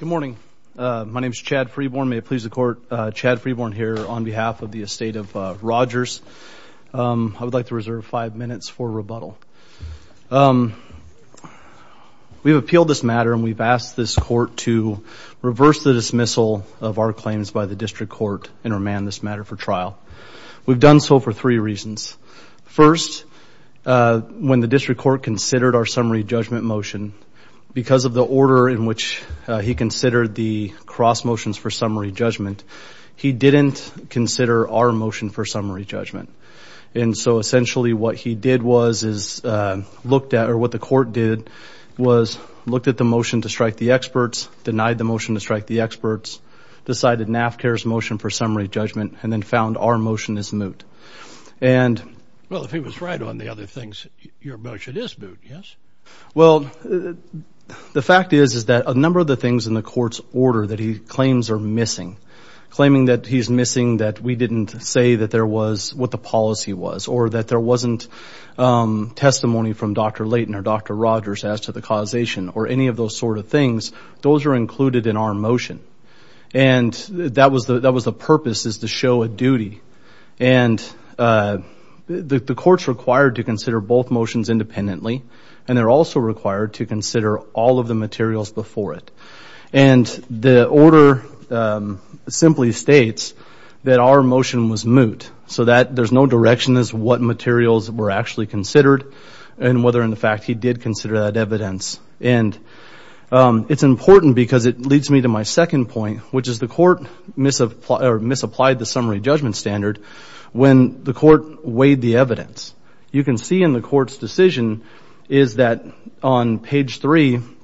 My name is Chad Freeborn. May it please the court, Chad Freeborn here on behalf of the estate of Rogers. I would like to reserve five minutes for rebuttal. We've appealed this matter and we've asked this court to reverse the dismissal of our claims by the district court and remand this matter for trial. We've done so for three reasons. First, when the district court considered our summary judgment motion, because of the order in which he considered the cross motions for summary judgment, he didn't consider our motion for summary judgment. And so essentially what he did was, or what the court did, was looked at the motion to strike the experts, denied the motion to strike the experts, decided Naphcare's motion for summary judgment, and then found our motion is moot. Well, if he was right on the other things, your motion is moot, yes? Well, the fact is, is that a number of the things in the court's order that he claims are missing, claiming that he's missing that we didn't say that there was, what the policy was, or that there wasn't testimony from Dr. Layton or Dr. Rogers as to the causation, or any of those sort of things, those are included in our motion. And that was the purpose, is to show a duty. And the court's required to consider both motions independently, and they're also required to consider all of the materials before it. And the order simply states that our motion was moot, so that there's no direction as to what materials were actually considered, and whether in fact he did consider that evidence. And it's important because it leads me to my second point, which is the court misapplied the summary judgment standard when the court weighed the evidence. You can see in the court's decision is that on page 3 in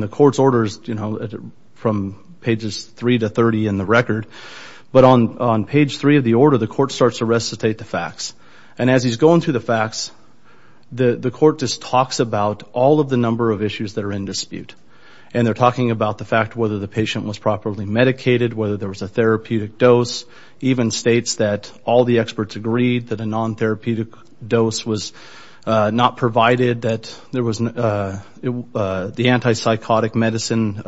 the court's orders, you know, from pages 3 to 30 in the record, but on page 3 of the order, the court starts to recitate the facts. And as he's going through the facts, the court just talks about all of the number of issues that are in dispute. And they're talking about the fact whether the patient was properly medicated, whether there was a therapeutic dose, even states that all the experts agreed that a non-therapeutic dose was not provided, that the anti-psychotic medicine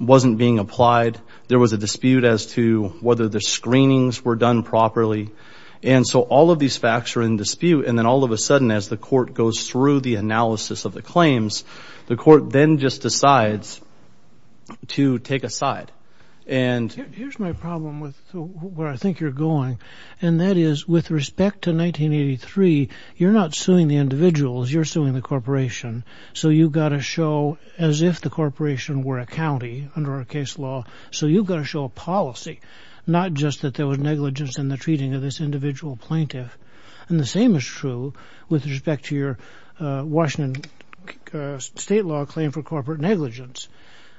wasn't being applied. There was a dispute as to whether the screenings were done properly. And so all of these facts are in dispute. And then all of a sudden as the court goes through the analysis of the claims, the court then just decides to take a side. Here's my problem with where I think you're going. And that is with respect to 1983, you're not suing the individuals. You're suing the corporation. So you've got to show as if the corporation were a county under our case law. So you've got to show a policy, not just that there was negligence in the treating of this individual plaintiff. And the same is true with respect to your Washington state law claim for corporate negligence.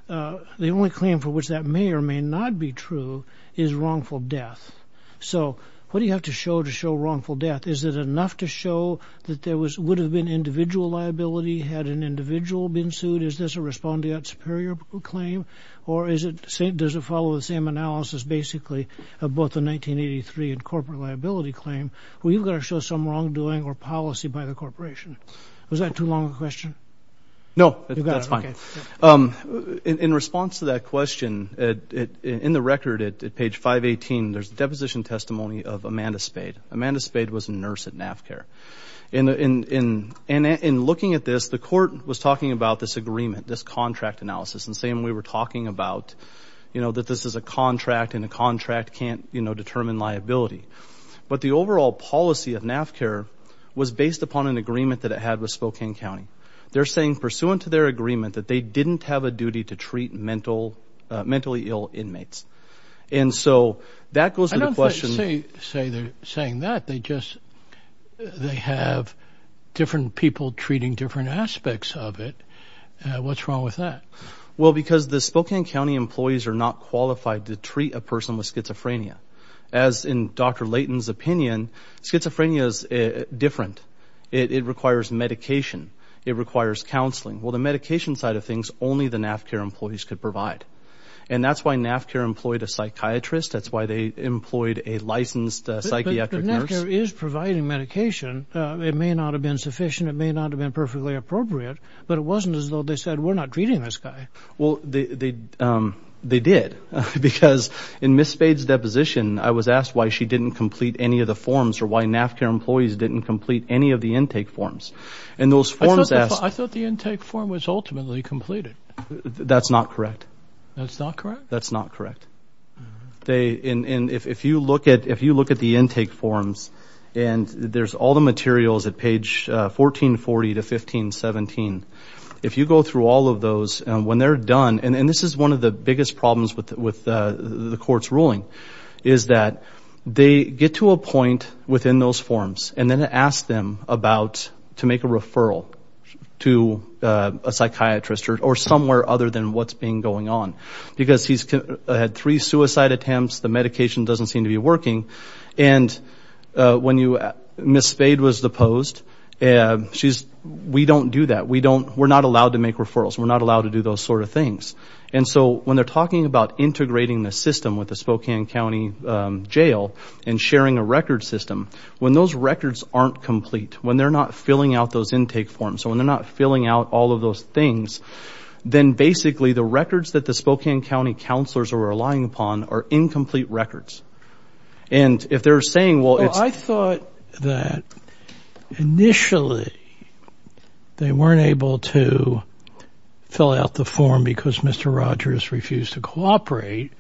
The only claim for which that may or may not be true is wrongful death. So what do you have to show to show wrongful death? Is it enough to show that there would have been individual liability had an individual been sued? Is this a respondeat superior claim? Or does it follow the same analysis basically of both the 1983 and corporate liability claim? Well, you've got to show some wrongdoing or policy by the corporation. Was that too long a question? No, that's fine. In response to that question, in the record at page 518, there's a deposition testimony of Amanda Spade. Amanda Spade was a nurse at NAFCARE. And in looking at this, the court was talking about this agreement, this contract analysis, and saying we were talking about, you know, that this is a contract and a contract can't, you know, determine liability. But the overall policy of NAFCARE was based upon an agreement that it had with Spokane County. They're saying, pursuant to their agreement, that they didn't have a duty to treat mentally ill inmates. And so that goes to the question. I don't think they're saying that. They just have different people treating different aspects of it. What's wrong with that? Well, because the Spokane County employees are not qualified to treat a person with schizophrenia. As in Dr. Layton's opinion, schizophrenia is different. It requires medication. It requires counseling. Well, the medication side of things, only the NAFCARE employees could provide. And that's why NAFCARE employed a psychiatrist. That's why they employed a licensed psychiatric nurse. But NAFCARE is providing medication. It may not have been sufficient. It may not have been perfectly appropriate. But it wasn't as though they said, we're not treating this guy. Well, they did. Because in Ms. Spade's deposition, I was asked why she didn't complete any of the forms or why NAFCARE employees didn't complete any of the intake forms. I thought the intake form was ultimately completed. That's not correct. That's not correct? That's not correct. And if you look at the intake forms and there's all the materials at page 1440 to 1517, if you go through all of those, when they're done, and this is one of the biggest problems with the court's ruling, is that they get to a point within those forms and then ask them to make a referral to a psychiatrist or somewhere other than what's been going on. Because he's had three suicide attempts, the medication doesn't seem to be working, and when Ms. Spade was deposed, she's, we don't do that. We're not allowed to make referrals. We're not allowed to do those sort of things. And so when they're talking about integrating the system with the Spokane County Jail and sharing a record system, when those records aren't complete, when they're not filling out those intake forms, so when they're not filling out all of those things, then basically the records that the Spokane County counselors are relying upon are incomplete records. And if they're saying, well, it's… Well, I thought that initially they weren't able to fill out the form because Mr. Rogers refused to cooperate,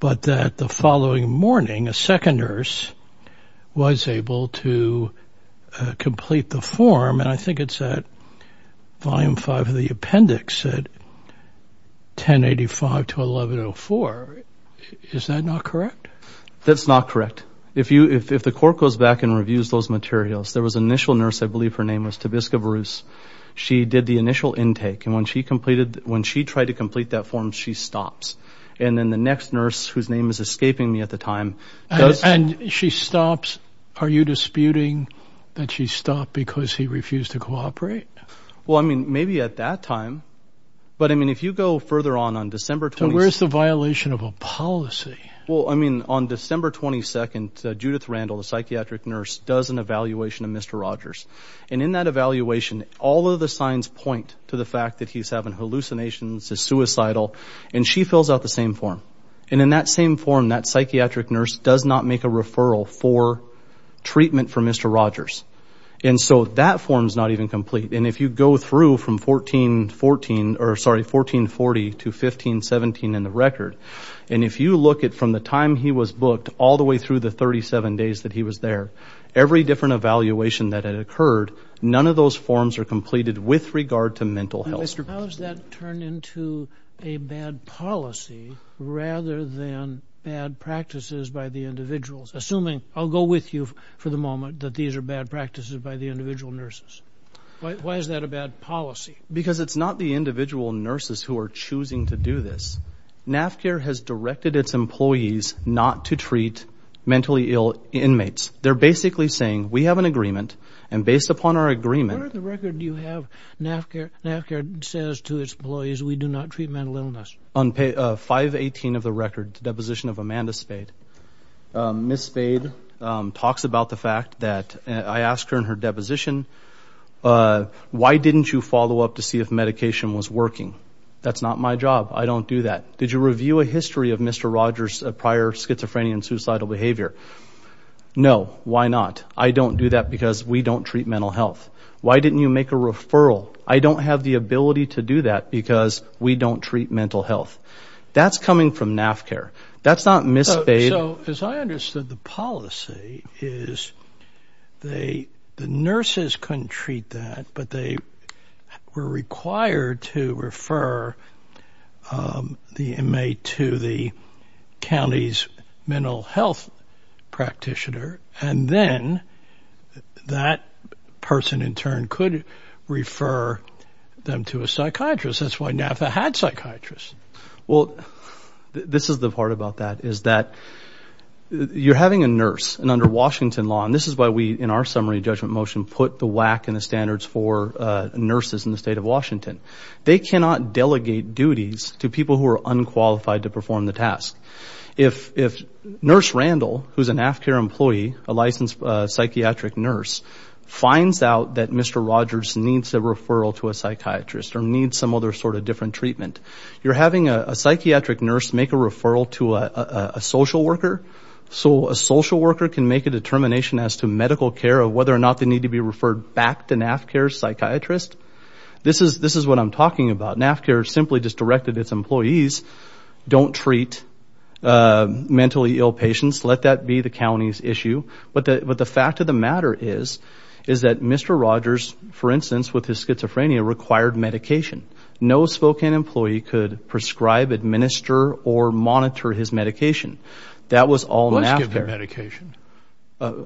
but that the following morning a second nurse was able to complete the form, and I think it's at Volume 5 of the appendix at 1085 to 1104. Is that not correct? That's not correct. If the court goes back and reviews those materials, there was an initial nurse, I believe her name was Tabisca Bruce. She did the initial intake, and when she tried to complete that form, she stops. And then the next nurse, whose name is escaping me at the time… And she stops. Are you disputing that she stopped because he refused to cooperate? Well, I mean, maybe at that time. But, I mean, if you go further on, on December 22nd… So where's the violation of a policy? Well, I mean, on December 22nd, Judith Randall, the psychiatric nurse, does an evaluation of Mr. Rogers. And in that evaluation, all of the signs point to the fact that he's having hallucinations, is suicidal, and she fills out the same form. And in that same form, that psychiatric nurse does not make a referral for treatment for Mr. Rogers. And so that form's not even complete. And if you go through from 1440 to 1517 in the record, and if you look at from the time he was booked all the way through the 37 days that he was there, every different evaluation that had occurred, none of those forms are completed with regard to mental health. How has that turned into a bad policy rather than bad practices by the individuals? Assuming, I'll go with you for the moment, that these are bad practices by the individual nurses. Why is that a bad policy? Because it's not the individual nurses who are choosing to do this. NAFCAIR has directed its employees not to treat mentally ill inmates. They're basically saying, we have an agreement, and based upon our agreement… Ms. Spade says to its employees, we do not treat mental illness. On 518 of the record, the deposition of Amanda Spade, Ms. Spade talks about the fact that I asked her in her deposition, why didn't you follow up to see if medication was working? That's not my job. I don't do that. Did you review a history of Mr. Rogers' prior schizophrenia and suicidal behavior? No. Why not? I don't do that because we don't treat mental health. Why didn't you make a referral? I don't have the ability to do that because we don't treat mental health. That's coming from NAFCAIR. That's not Ms. Spade. So, as I understood, the policy is the nurses couldn't treat that, but they were required to refer the inmate to the county's mental health practitioner, and then that person in turn could refer them to a psychiatrist. That's why NAFCAIR had psychiatrists. Well, this is the part about that, is that you're having a nurse, and under Washington law, and this is why we, in our summary judgment motion, put the whack and the standards for nurses in the state of Washington. They cannot delegate duties to people who are unqualified to perform the task. If Nurse Randall, who's a NAFCAIR employee, a licensed psychiatric nurse, finds out that Mr. Rogers needs a referral to a psychiatrist or needs some other sort of different treatment, you're having a psychiatric nurse make a referral to a social worker, so a social worker can make a determination as to medical care of whether or not they need to be referred back to NAFCAIR's psychiatrist. This is what I'm talking about. NAFCAIR simply just directed its employees, don't treat mentally ill patients, let that be the county's issue. But the fact of the matter is, is that Mr. Rogers, for instance, with his schizophrenia, required medication. No Spokane employee could prescribe, administer, or monitor his medication. That was all NAFCAIR. Wasn't he given medication?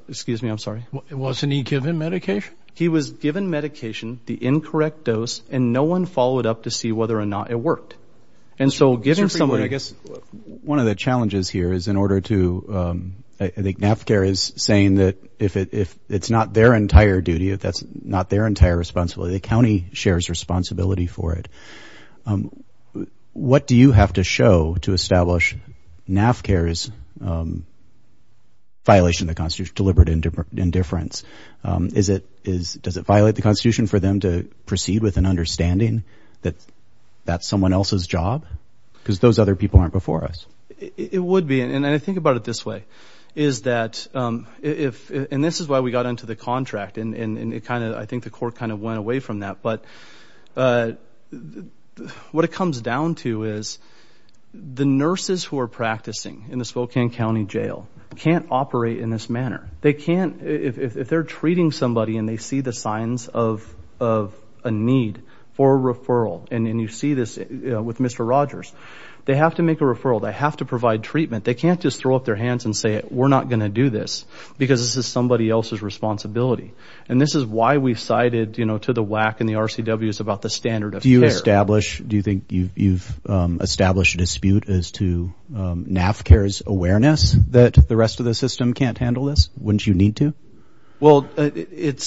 Excuse me, I'm sorry. Wasn't he given medication? He was given medication, the incorrect dose, and no one followed up to see whether or not it worked. And so giving someone, I guess one of the challenges here is in order to, I think NAFCAIR is saying that if it's not their entire duty, if that's not their entire responsibility, the county shares responsibility for it. What do you have to show to establish NAFCAIR's violation of the Constitution, deliberate indifference? Does it violate the Constitution for them to proceed with an understanding that that's someone else's job? Because those other people aren't before us. It would be, and I think about it this way, is that if, and this is why we got into the contract, and I think the court kind of went away from that, but what it comes down to is the nurses who are practicing in the Spokane County Jail can't operate in this manner. They can't. If they're treating somebody and they see the signs of a need for a referral, and you see this with Mr. Rogers, they have to make a referral. They have to provide treatment. They can't just throw up their hands and say, we're not going to do this because this is somebody else's responsibility. And this is why we cited to the WAC and the RCWs about the standard of care. Do you think you've established a dispute as to NAFCAIR's awareness that the rest of the system can't handle this? Wouldn't you need to? Well, it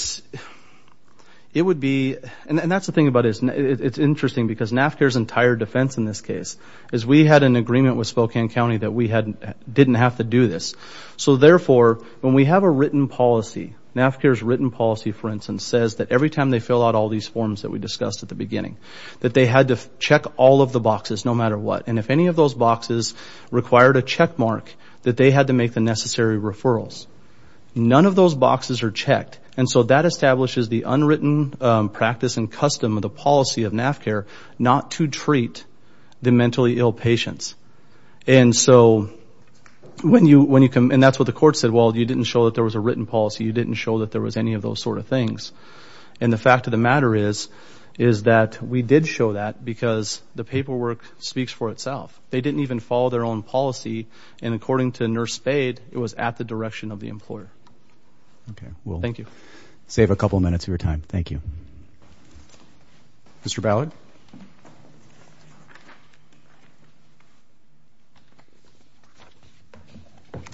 would be, and that's the thing about it. It's interesting because NAFCAIR's entire defense in this case is we had an agreement with Spokane County that we didn't have to do this. So therefore, when we have a written policy, NAFCAIR's written policy, for instance, says that every time they fill out all these forms that we discussed at the beginning, that they had to check all of the boxes no matter what. And if any of those boxes required a checkmark, that they had to make the necessary referrals. None of those boxes are checked. And so that establishes the unwritten practice and custom of the policy of NAFCAIR not to treat the mentally ill patients. And so when you come, and that's what the court said, well, you didn't show that there was a written policy. You didn't show that there was any of those sort of things. And the fact of the matter is that we did show that because the paperwork speaks for itself. They didn't even follow their own policy, and according to Nurse Spade, it was at the direction of the employer. Okay. Well, thank you. We'll save a couple minutes of your time. Thank you. Mr. Ballard? Thank you.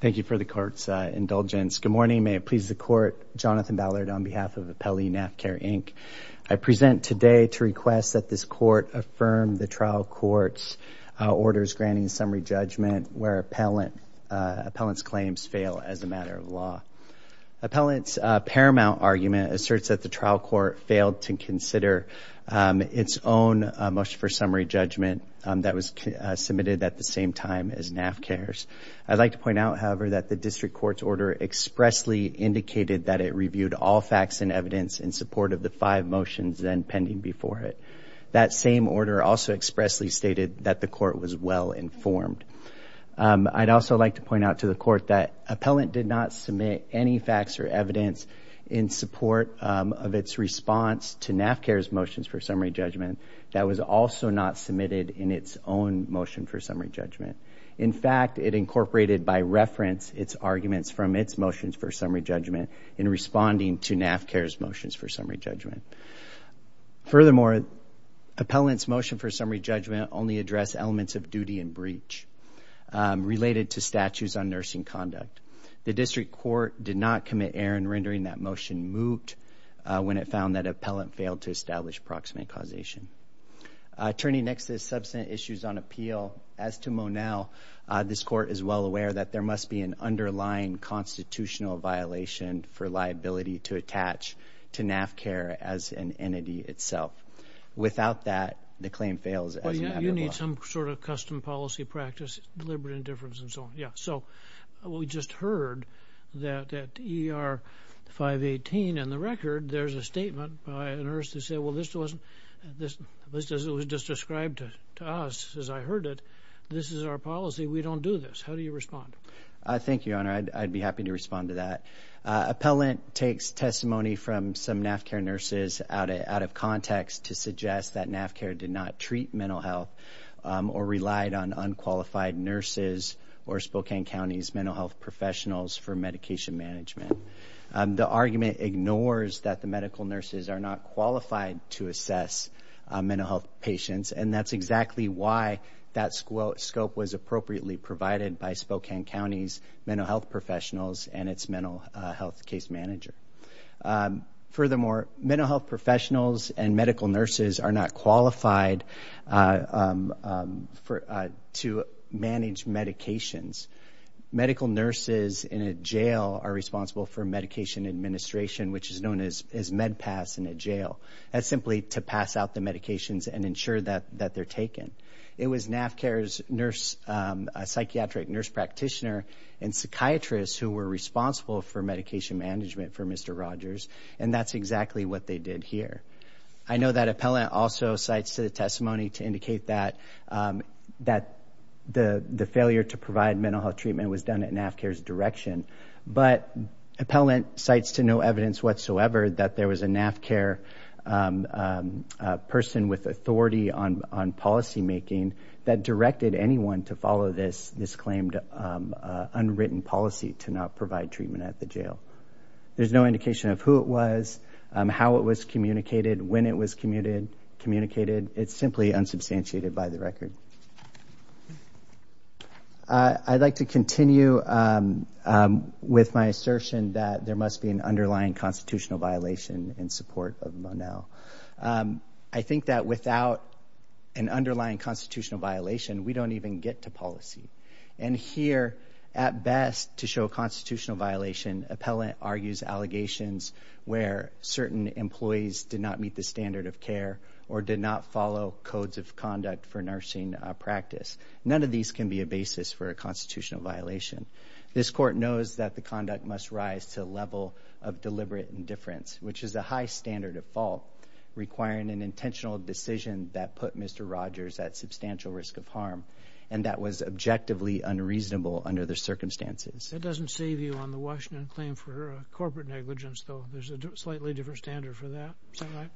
Thank you for the court's indulgence. Good morning. May it please the court. Jonathan Ballard on behalf of Appellee NAFCAIR, Inc. I present today to request that this court affirm the trial court's orders granting summary judgment where appellant's claims fail as a matter of law. Appellant's paramount argument asserts that the trial court failed to consider its own motion for summary judgment that was submitted at the same time as NAFCAIR's. I'd like to point out, however, that the district court's order expressly indicated that it reviewed all facts and evidence in support of the five motions then pending before it. That same order also expressly stated that the court was well informed. I'd also like to point out to the court that appellant did not submit any facts or evidence in support of its response to NAFCAIR's motions for summary judgment that was also not submitted in its own motion for summary judgment. In fact, it incorporated by reference its arguments from its motions for summary judgment in responding to NAFCAIR's motions for summary judgment. Furthermore, appellant's motion for summary judgment only addressed elements of duty and breach related to statutes on nursing conduct. The district court did not commit error in rendering that motion moot when it found that appellant failed to establish proximate causation. Turning next to the substantive issues on appeal, as to Monell, this court is well aware that there must be an underlying constitutional violation for liability to attach to NAFCAIR as an entity itself. Without that, the claim fails as a matter of law. You need some sort of custom policy practice, deliberate indifference, and so on. Yeah, so we just heard that at ER 518 in the record, there's a statement by a nurse that said, well, this wasn't, at least as it was just described to us as I heard it, this is our policy, we don't do this. How do you respond? Thank you, Your Honor. I'd be happy to respond to that. Appellant takes testimony from some NAFCAIR nurses out of context to suggest that NAFCAIR did not treat mental health or relied on unqualified nurses or Spokane County's mental health professionals for medication management. The argument ignores that the medical nurses are not qualified to assess mental health patients, and that's exactly why that scope was appropriately provided by Spokane County's mental health professionals and its mental health case manager. Furthermore, mental health professionals and medical nurses are not qualified to manage medications. Medical nurses in a jail are responsible for medication administration, which is known as MedPass in a jail. That's simply to pass out the medications and ensure that they're taken. It was NAFCAIR's nurse, a psychiatric nurse practitioner and psychiatrist who were responsible for medication management for Mr. Rogers, and that's exactly what they did here. I know that appellant also cites the testimony to indicate that the failure to provide mental health treatment was done at NAFCAIR's direction, but appellant cites to no evidence whatsoever that there was a NAFCAIR person with authority on policymaking that directed anyone to follow this claimed unwritten policy to not provide treatment at the jail. There's no indication of who it was, how it was communicated, when it was communicated. It's simply unsubstantiated by the record. I'd like to continue with my assertion that there must be an underlying constitutional violation in support of Monell. I think that without an underlying constitutional violation, we don't even get to policy. And here, at best, to show a constitutional violation, appellant argues allegations where certain employees did not meet the standard of care or did not follow codes of conduct for nursing practice. None of these can be a basis for a constitutional violation. This court knows that the conduct must rise to a level of deliberate indifference, which is a high standard of fault requiring an intentional decision that put Mr. Rogers at substantial risk of harm, and that was objectively unreasonable under the circumstances. That doesn't save you on the Washington claim for corporate negligence, though. There's a slightly different standard for that. Is that right?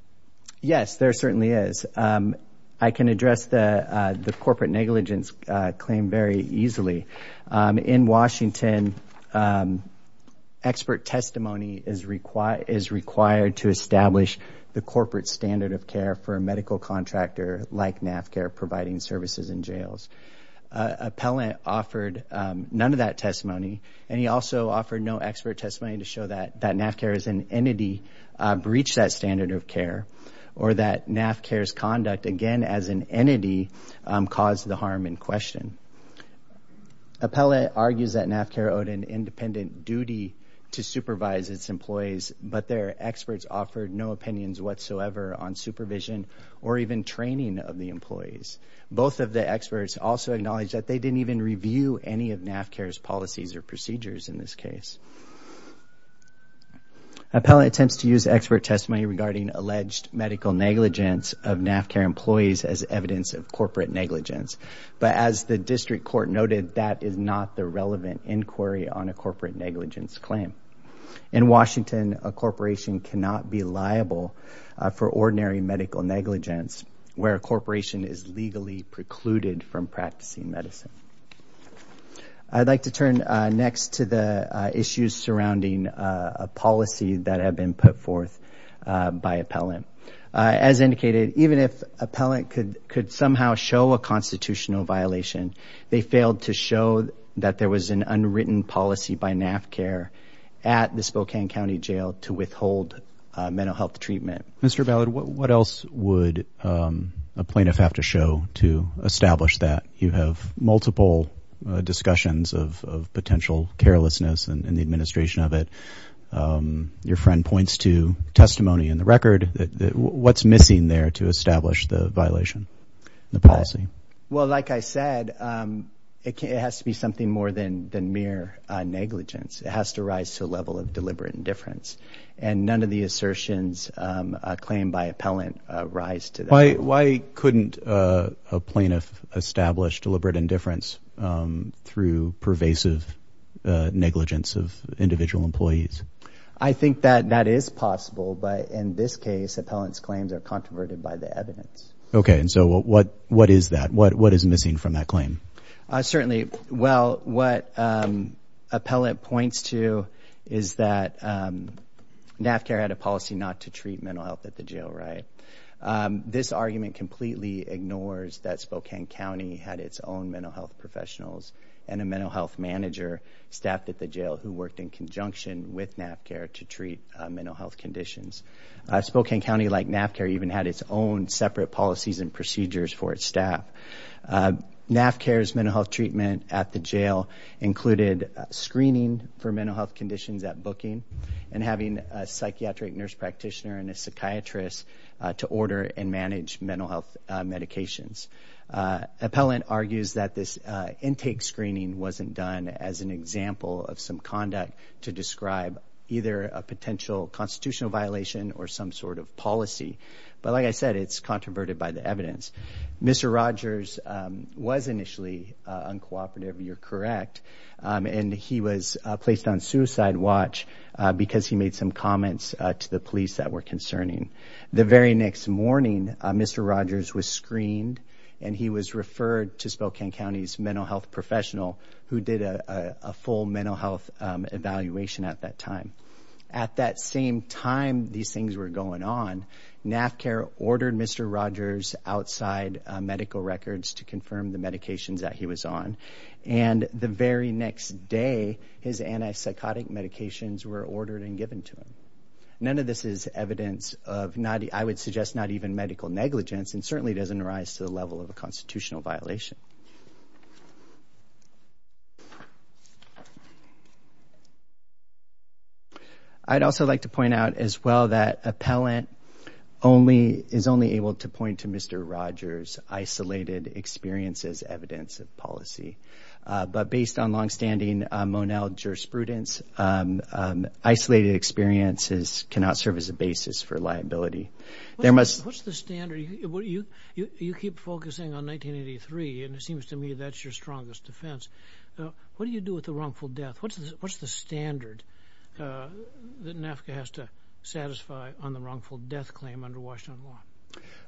Yes, there certainly is. I can address the corporate negligence claim very easily. In Washington, expert testimony is required to establish the corporate standard of care for a medical contractor like NAFCARE providing services in jails. Appellant offered none of that testimony, and he also offered no expert testimony to show that NAFCARE as an entity breached that standard of care or that NAFCARE's conduct, again as an entity, caused the harm in question. Appellant argues that NAFCARE owed an independent duty to supervise its employees, but their experts offered no opinions whatsoever on supervision or even training of the employees. Both of the experts also acknowledge that they didn't even review any of NAFCARE's policies or procedures in this case. Appellant attempts to use expert testimony regarding alleged medical negligence of NAFCARE employees as evidence of corporate negligence, but as the district court noted, that is not the relevant inquiry on a corporate negligence claim. In Washington, a corporation cannot be liable for ordinary medical negligence where a corporation is legally precluded from practicing medicine. I'd like to turn next to the issues surrounding a policy that had been put forth by Appellant. As indicated, even if Appellant could somehow show a constitutional violation, they failed to show that there was an unwritten policy by NAFCARE at the Spokane County Jail to withhold mental health treatment. Mr. Ballard, what else would a plaintiff have to show to establish that? You have multiple discussions of potential carelessness in the administration of it. Your friend points to testimony in the record. What's missing there to establish the violation in the policy? Well, like I said, it has to be something more than mere negligence. It has to rise to a level of deliberate indifference, and none of the assertions claimed by Appellant rise to that level. Why couldn't a plaintiff establish deliberate indifference through pervasive negligence of individual employees? I think that that is possible, but in this case, Appellant's claims are controverted by the evidence. Okay, and so what is that? What is missing from that claim? Certainly, well, what Appellant points to is that NAFCARE had a policy not to treat mental health at the jail, right? This argument completely ignores that Spokane County had its own mental health professionals and a mental health manager staffed at the jail who worked in conjunction with NAFCARE to treat mental health conditions. Spokane County, like NAFCARE, even had its own separate policies and procedures for its staff. NAFCARE's mental health treatment at the jail included screening for mental health conditions at booking and having a psychiatric nurse practitioner and a psychiatrist to order and manage mental health medications. Appellant argues that this intake screening wasn't done as an example of some conduct to describe either a potential constitutional violation or some sort of policy. But like I said, it's controverted by the evidence. Mr. Rogers was initially uncooperative, you're correct, and he was placed on suicide watch because he made some comments to the police that were concerning. The very next morning, Mr. Rogers was screened, and he was referred to Spokane County's mental health professional who did a full mental health evaluation at that time. At that same time these things were going on, NAFCARE ordered Mr. Rogers outside medical records to confirm the medications that he was on, and the very next day his antipsychotic medications were ordered and given to him. None of this is evidence of, I would suggest, not even medical negligence and certainly doesn't rise to the level of a constitutional violation. Thank you. I'd also like to point out as well that appellant is only able to point to Mr. Rogers' isolated experiences as evidence of policy. But based on longstanding Monell jurisprudence, isolated experiences cannot serve as a basis for liability. What's the standard? You keep focusing on 1983, and it seems to me that's your strongest defense. What do you do with the wrongful death? What's the standard that NAFCA has to satisfy on the wrongful death claim under Washington law?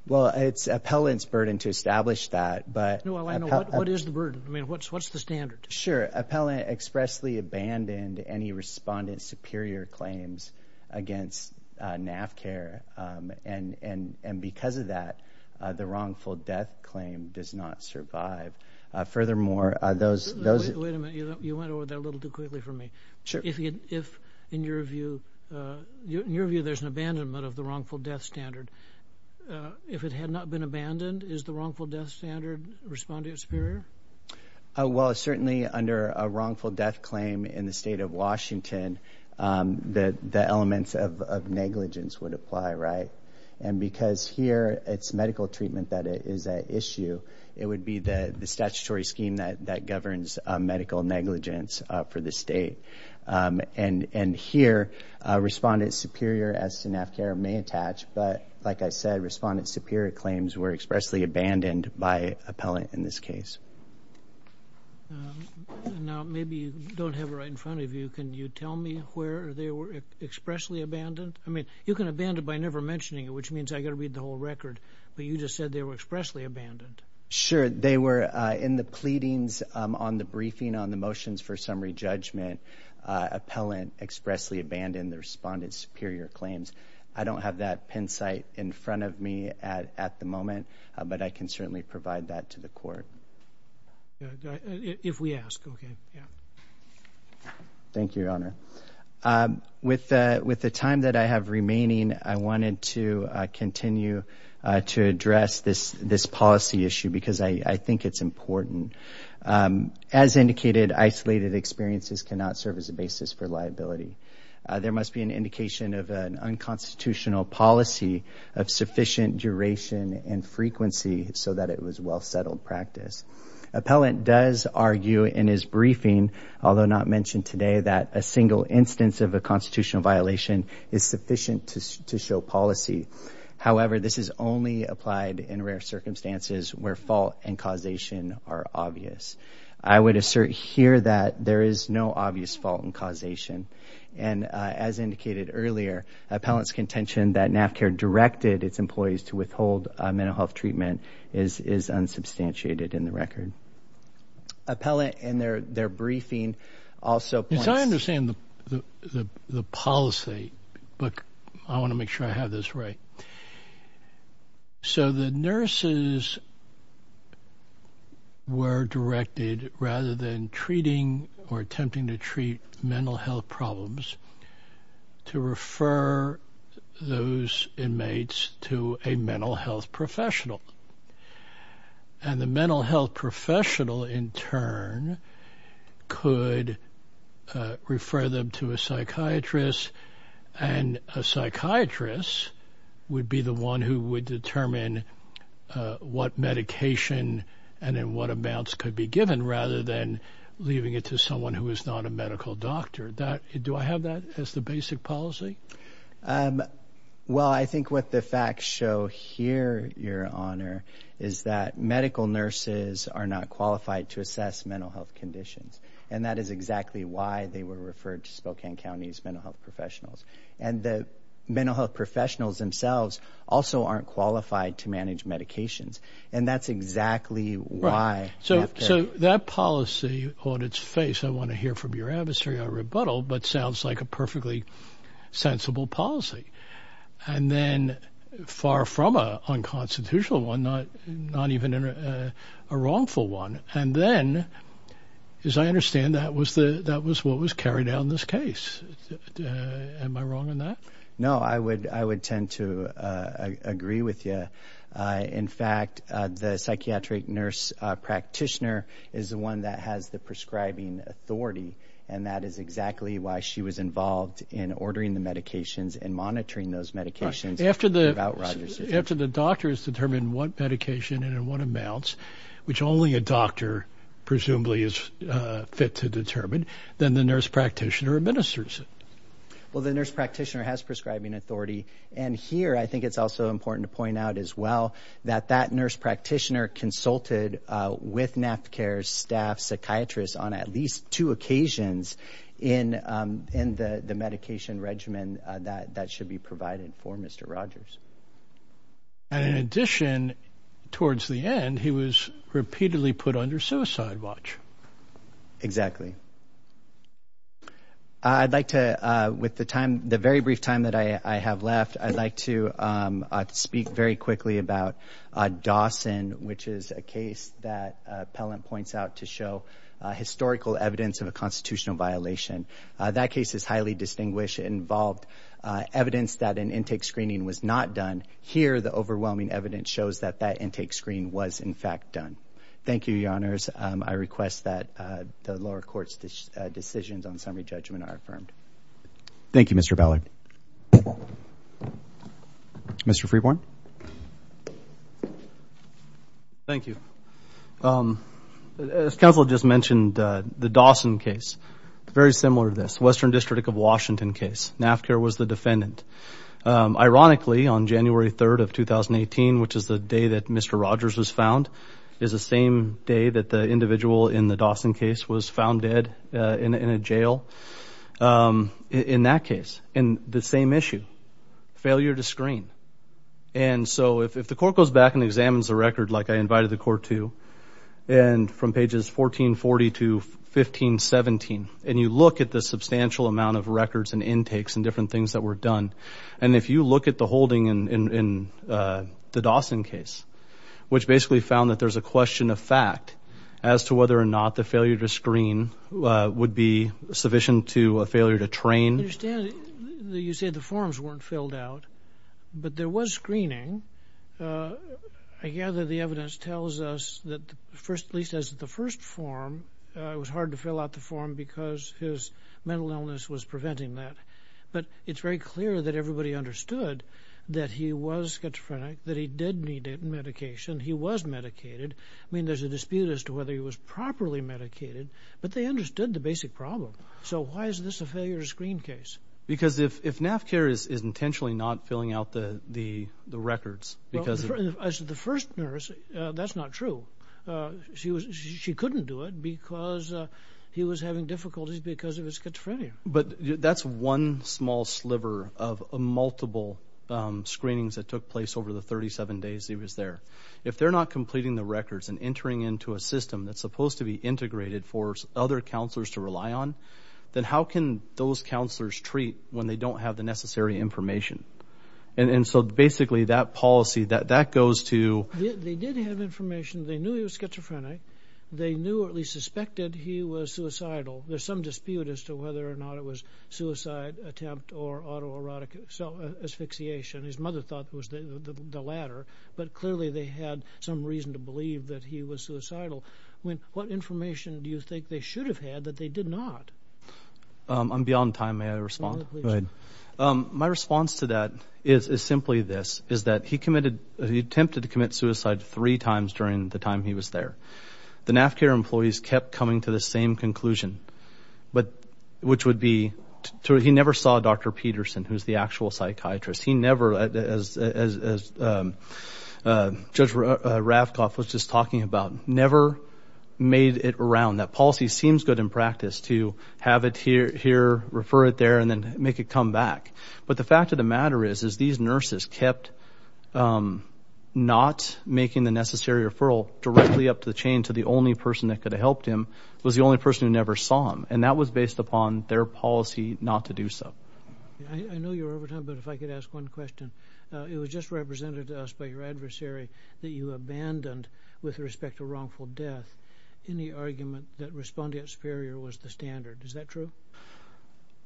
Well, it's appellant's burden to establish that. What is the burden? What's the standard? Appellant expressly abandoned any respondent's superior claims against NAFCA, and because of that, the wrongful death claim does not survive. Furthermore, those... Wait a minute. You went over that a little too quickly for me. In your view, there's an abandonment of the wrongful death standard. If it had not been abandoned, is the wrongful death standard respondent superior? Well, certainly under a wrongful death claim in the state of Washington, the elements of negligence would apply, right? And because here it's medical treatment that is at issue, it would be the statutory scheme that governs medical negligence for the state. And here, respondent superior, as to NAFCA, may attach, but like I said, respondent superior claims were expressly abandoned by appellant in this case. Now, maybe you don't have it right in front of you. Can you tell me where they were expressly abandoned? I mean, you can abandon by never mentioning it, which means I've got to read the whole record, but you just said they were expressly abandoned. Sure. They were in the pleadings on the briefing on the motions for summary judgment. Appellant expressly abandoned the respondent's superior claims. I don't have that pen sight in front of me at the moment, but I can certainly provide that to the court. If we ask. Okay. Yeah. Thank you, Your Honor. With the time that I have remaining, I wanted to continue to address this policy issue because I think it's important. As indicated, isolated experiences cannot serve as a basis for liability. There must be an indication of an unconstitutional policy of sufficient duration and frequency so that it was well-settled practice. Appellant does argue in his briefing, although not mentioned today, that a single instance of a constitutional violation is sufficient to show policy. However, this is only applied in rare circumstances where fault and causation are obvious. I would assert here that there is no obvious fault and causation, and as indicated earlier, appellant's contention that NAFCA directed its employees to withhold mental health treatment is unsubstantiated in the record. Appellant, in their briefing, also points... Yes, I understand the policy, but I want to make sure I have this right. So the nurses were directed, rather than treating or attempting to treat mental health problems, to refer those inmates to a mental health professional. And the mental health professional, in turn, could refer them to a psychiatrist, and a psychiatrist would be the one who would determine what medication and in what amounts could be given, rather than leaving it to someone who is not a medical doctor. Do I have that as the basic policy? Well, I think what the facts show here, Your Honor, is that medical nurses are not qualified to assess mental health conditions, and that is exactly why they were referred to Spokane County's mental health professionals. And the mental health professionals themselves also aren't qualified to manage medications, and that's exactly why NAFCA... So that policy on its face, I want to hear from your adversary, I rebuttal, but sounds like a perfectly sensible policy. And then, far from an unconstitutional one, not even a wrongful one, and then, as I understand, that was what was carried out in this case. Am I wrong on that? No, I would tend to agree with you. In fact, the psychiatric nurse practitioner is the one that has the prescribing authority, and that is exactly why she was involved in ordering the medications and monitoring those medications about Roger's situation. After the doctor has determined what medication and in what amounts, which only a doctor presumably is fit to determine, then the nurse practitioner administers it. Well, the nurse practitioner has prescribing authority, and here I think it's also important to point out as well that that nurse practitioner consulted with NAFCA staff psychiatrists on at least two occasions in the medication regimen that should be provided for Mr. Rogers. And in addition, towards the end, he was repeatedly put under suicide watch. Exactly. I'd like to, with the time, the very brief time that I have left, I'd like to speak very quickly about Dawson, which is a case that Appellant points out to show historical evidence of a constitutional violation. That case is highly distinguished. It involved evidence that an intake screening was not done. Here, the overwhelming evidence shows that that intake screen was, in fact, done. Thank you, Your Honors. I request that the lower court's decisions on summary judgment are affirmed. Thank you, Mr. Ballard. Mr. Freeborn. Thank you. As counsel just mentioned, the Dawson case, very similar to this, Western District of Washington case. NAFCA was the defendant. Ironically, on January 3rd of 2018, which is the day that Mr. Rogers was found, is the same day that the individual in the Dawson case was found dead in a jail. In that case, the same issue, failure to screen. And so if the court goes back and examines the record, like I invited the court to, and from pages 1440 to 1517, and you look at the substantial amount of records and intakes and different things that were done, and if you look at the holding in the Dawson case, which basically found that there's a question of fact as to whether or not the failure to screen would be sufficient to a failure to train. I understand that you say the forms weren't filled out, but there was screening. I gather the evidence tells us that, at least as the first form, it was hard to fill out the form because his mental illness was preventing that. But it's very clear that everybody understood that he was schizophrenic, that he did need medication. He was medicated. I mean, there's a dispute as to whether he was properly medicated, but they understood the basic problem. So why is this a failure to screen case? Because if NAFCARE is intentionally not filling out the records... As the first nurse, that's not true. She couldn't do it because he was having difficulties because of his schizophrenia. But that's one small sliver of multiple screenings that took place over the 37 days he was there. If they're not completing the records and entering into a system that's supposed to be integrated for other counselors to rely on, then how can those counselors treat when they don't have the necessary information? And so basically that policy, that goes to... They did have information. They knew he was schizophrenic. They knew or at least suspected he was suicidal. There's some dispute as to whether or not it was suicide attempt or autoerotic asphyxiation. His mother thought it was the latter. But clearly they had some reason to believe that he was suicidal. What information do you think they should have had that they did not? I'm beyond time. May I respond? My response to that is simply this, is that he attempted to commit suicide three times during the time he was there. The NAFCARE employees kept coming to the same conclusion, which would be... He never saw Dr. Peterson, who's the actual psychiatrist. He never, as Judge Ravkoff was just talking about, never made it around. That policy seems good in practice to have it here, refer it there, and then make it come back. But the fact of the matter is, is these nurses kept not making the necessary referral directly up to the chain to the only person that could have helped him was the only person who never saw him. And that was based upon their policy not to do so. I know you're over time, but if I could ask one question. It was just represented to us by your adversary that you abandoned, with respect to wrongful death, any argument that respondent superior was the standard. Is that true?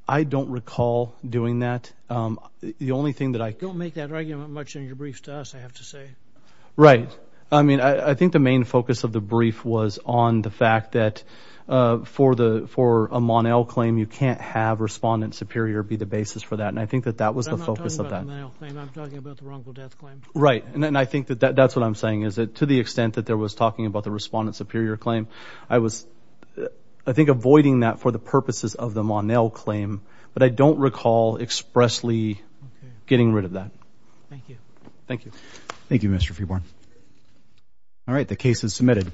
I don't recall doing that. The only thing that I... Don't make that argument much in your briefs to us, I have to say. Right. I mean, I think the main focus of the brief was on the fact that for a Mon-El claim, you can't have respondent superior be the basis for that. And I think that that was the focus of that. I'm not talking about the Mon-El claim, I'm talking about the wrongful death claim. Right. And I think that that's what I'm saying, is that to the extent that there was talking about the respondent superior claim, I was, I think, avoiding that for the purposes of the Mon-El claim. But I don't recall expressly getting rid of that. Thank you. Thank you. Thank you, Mr. Freeborn. All right. The case is submitted.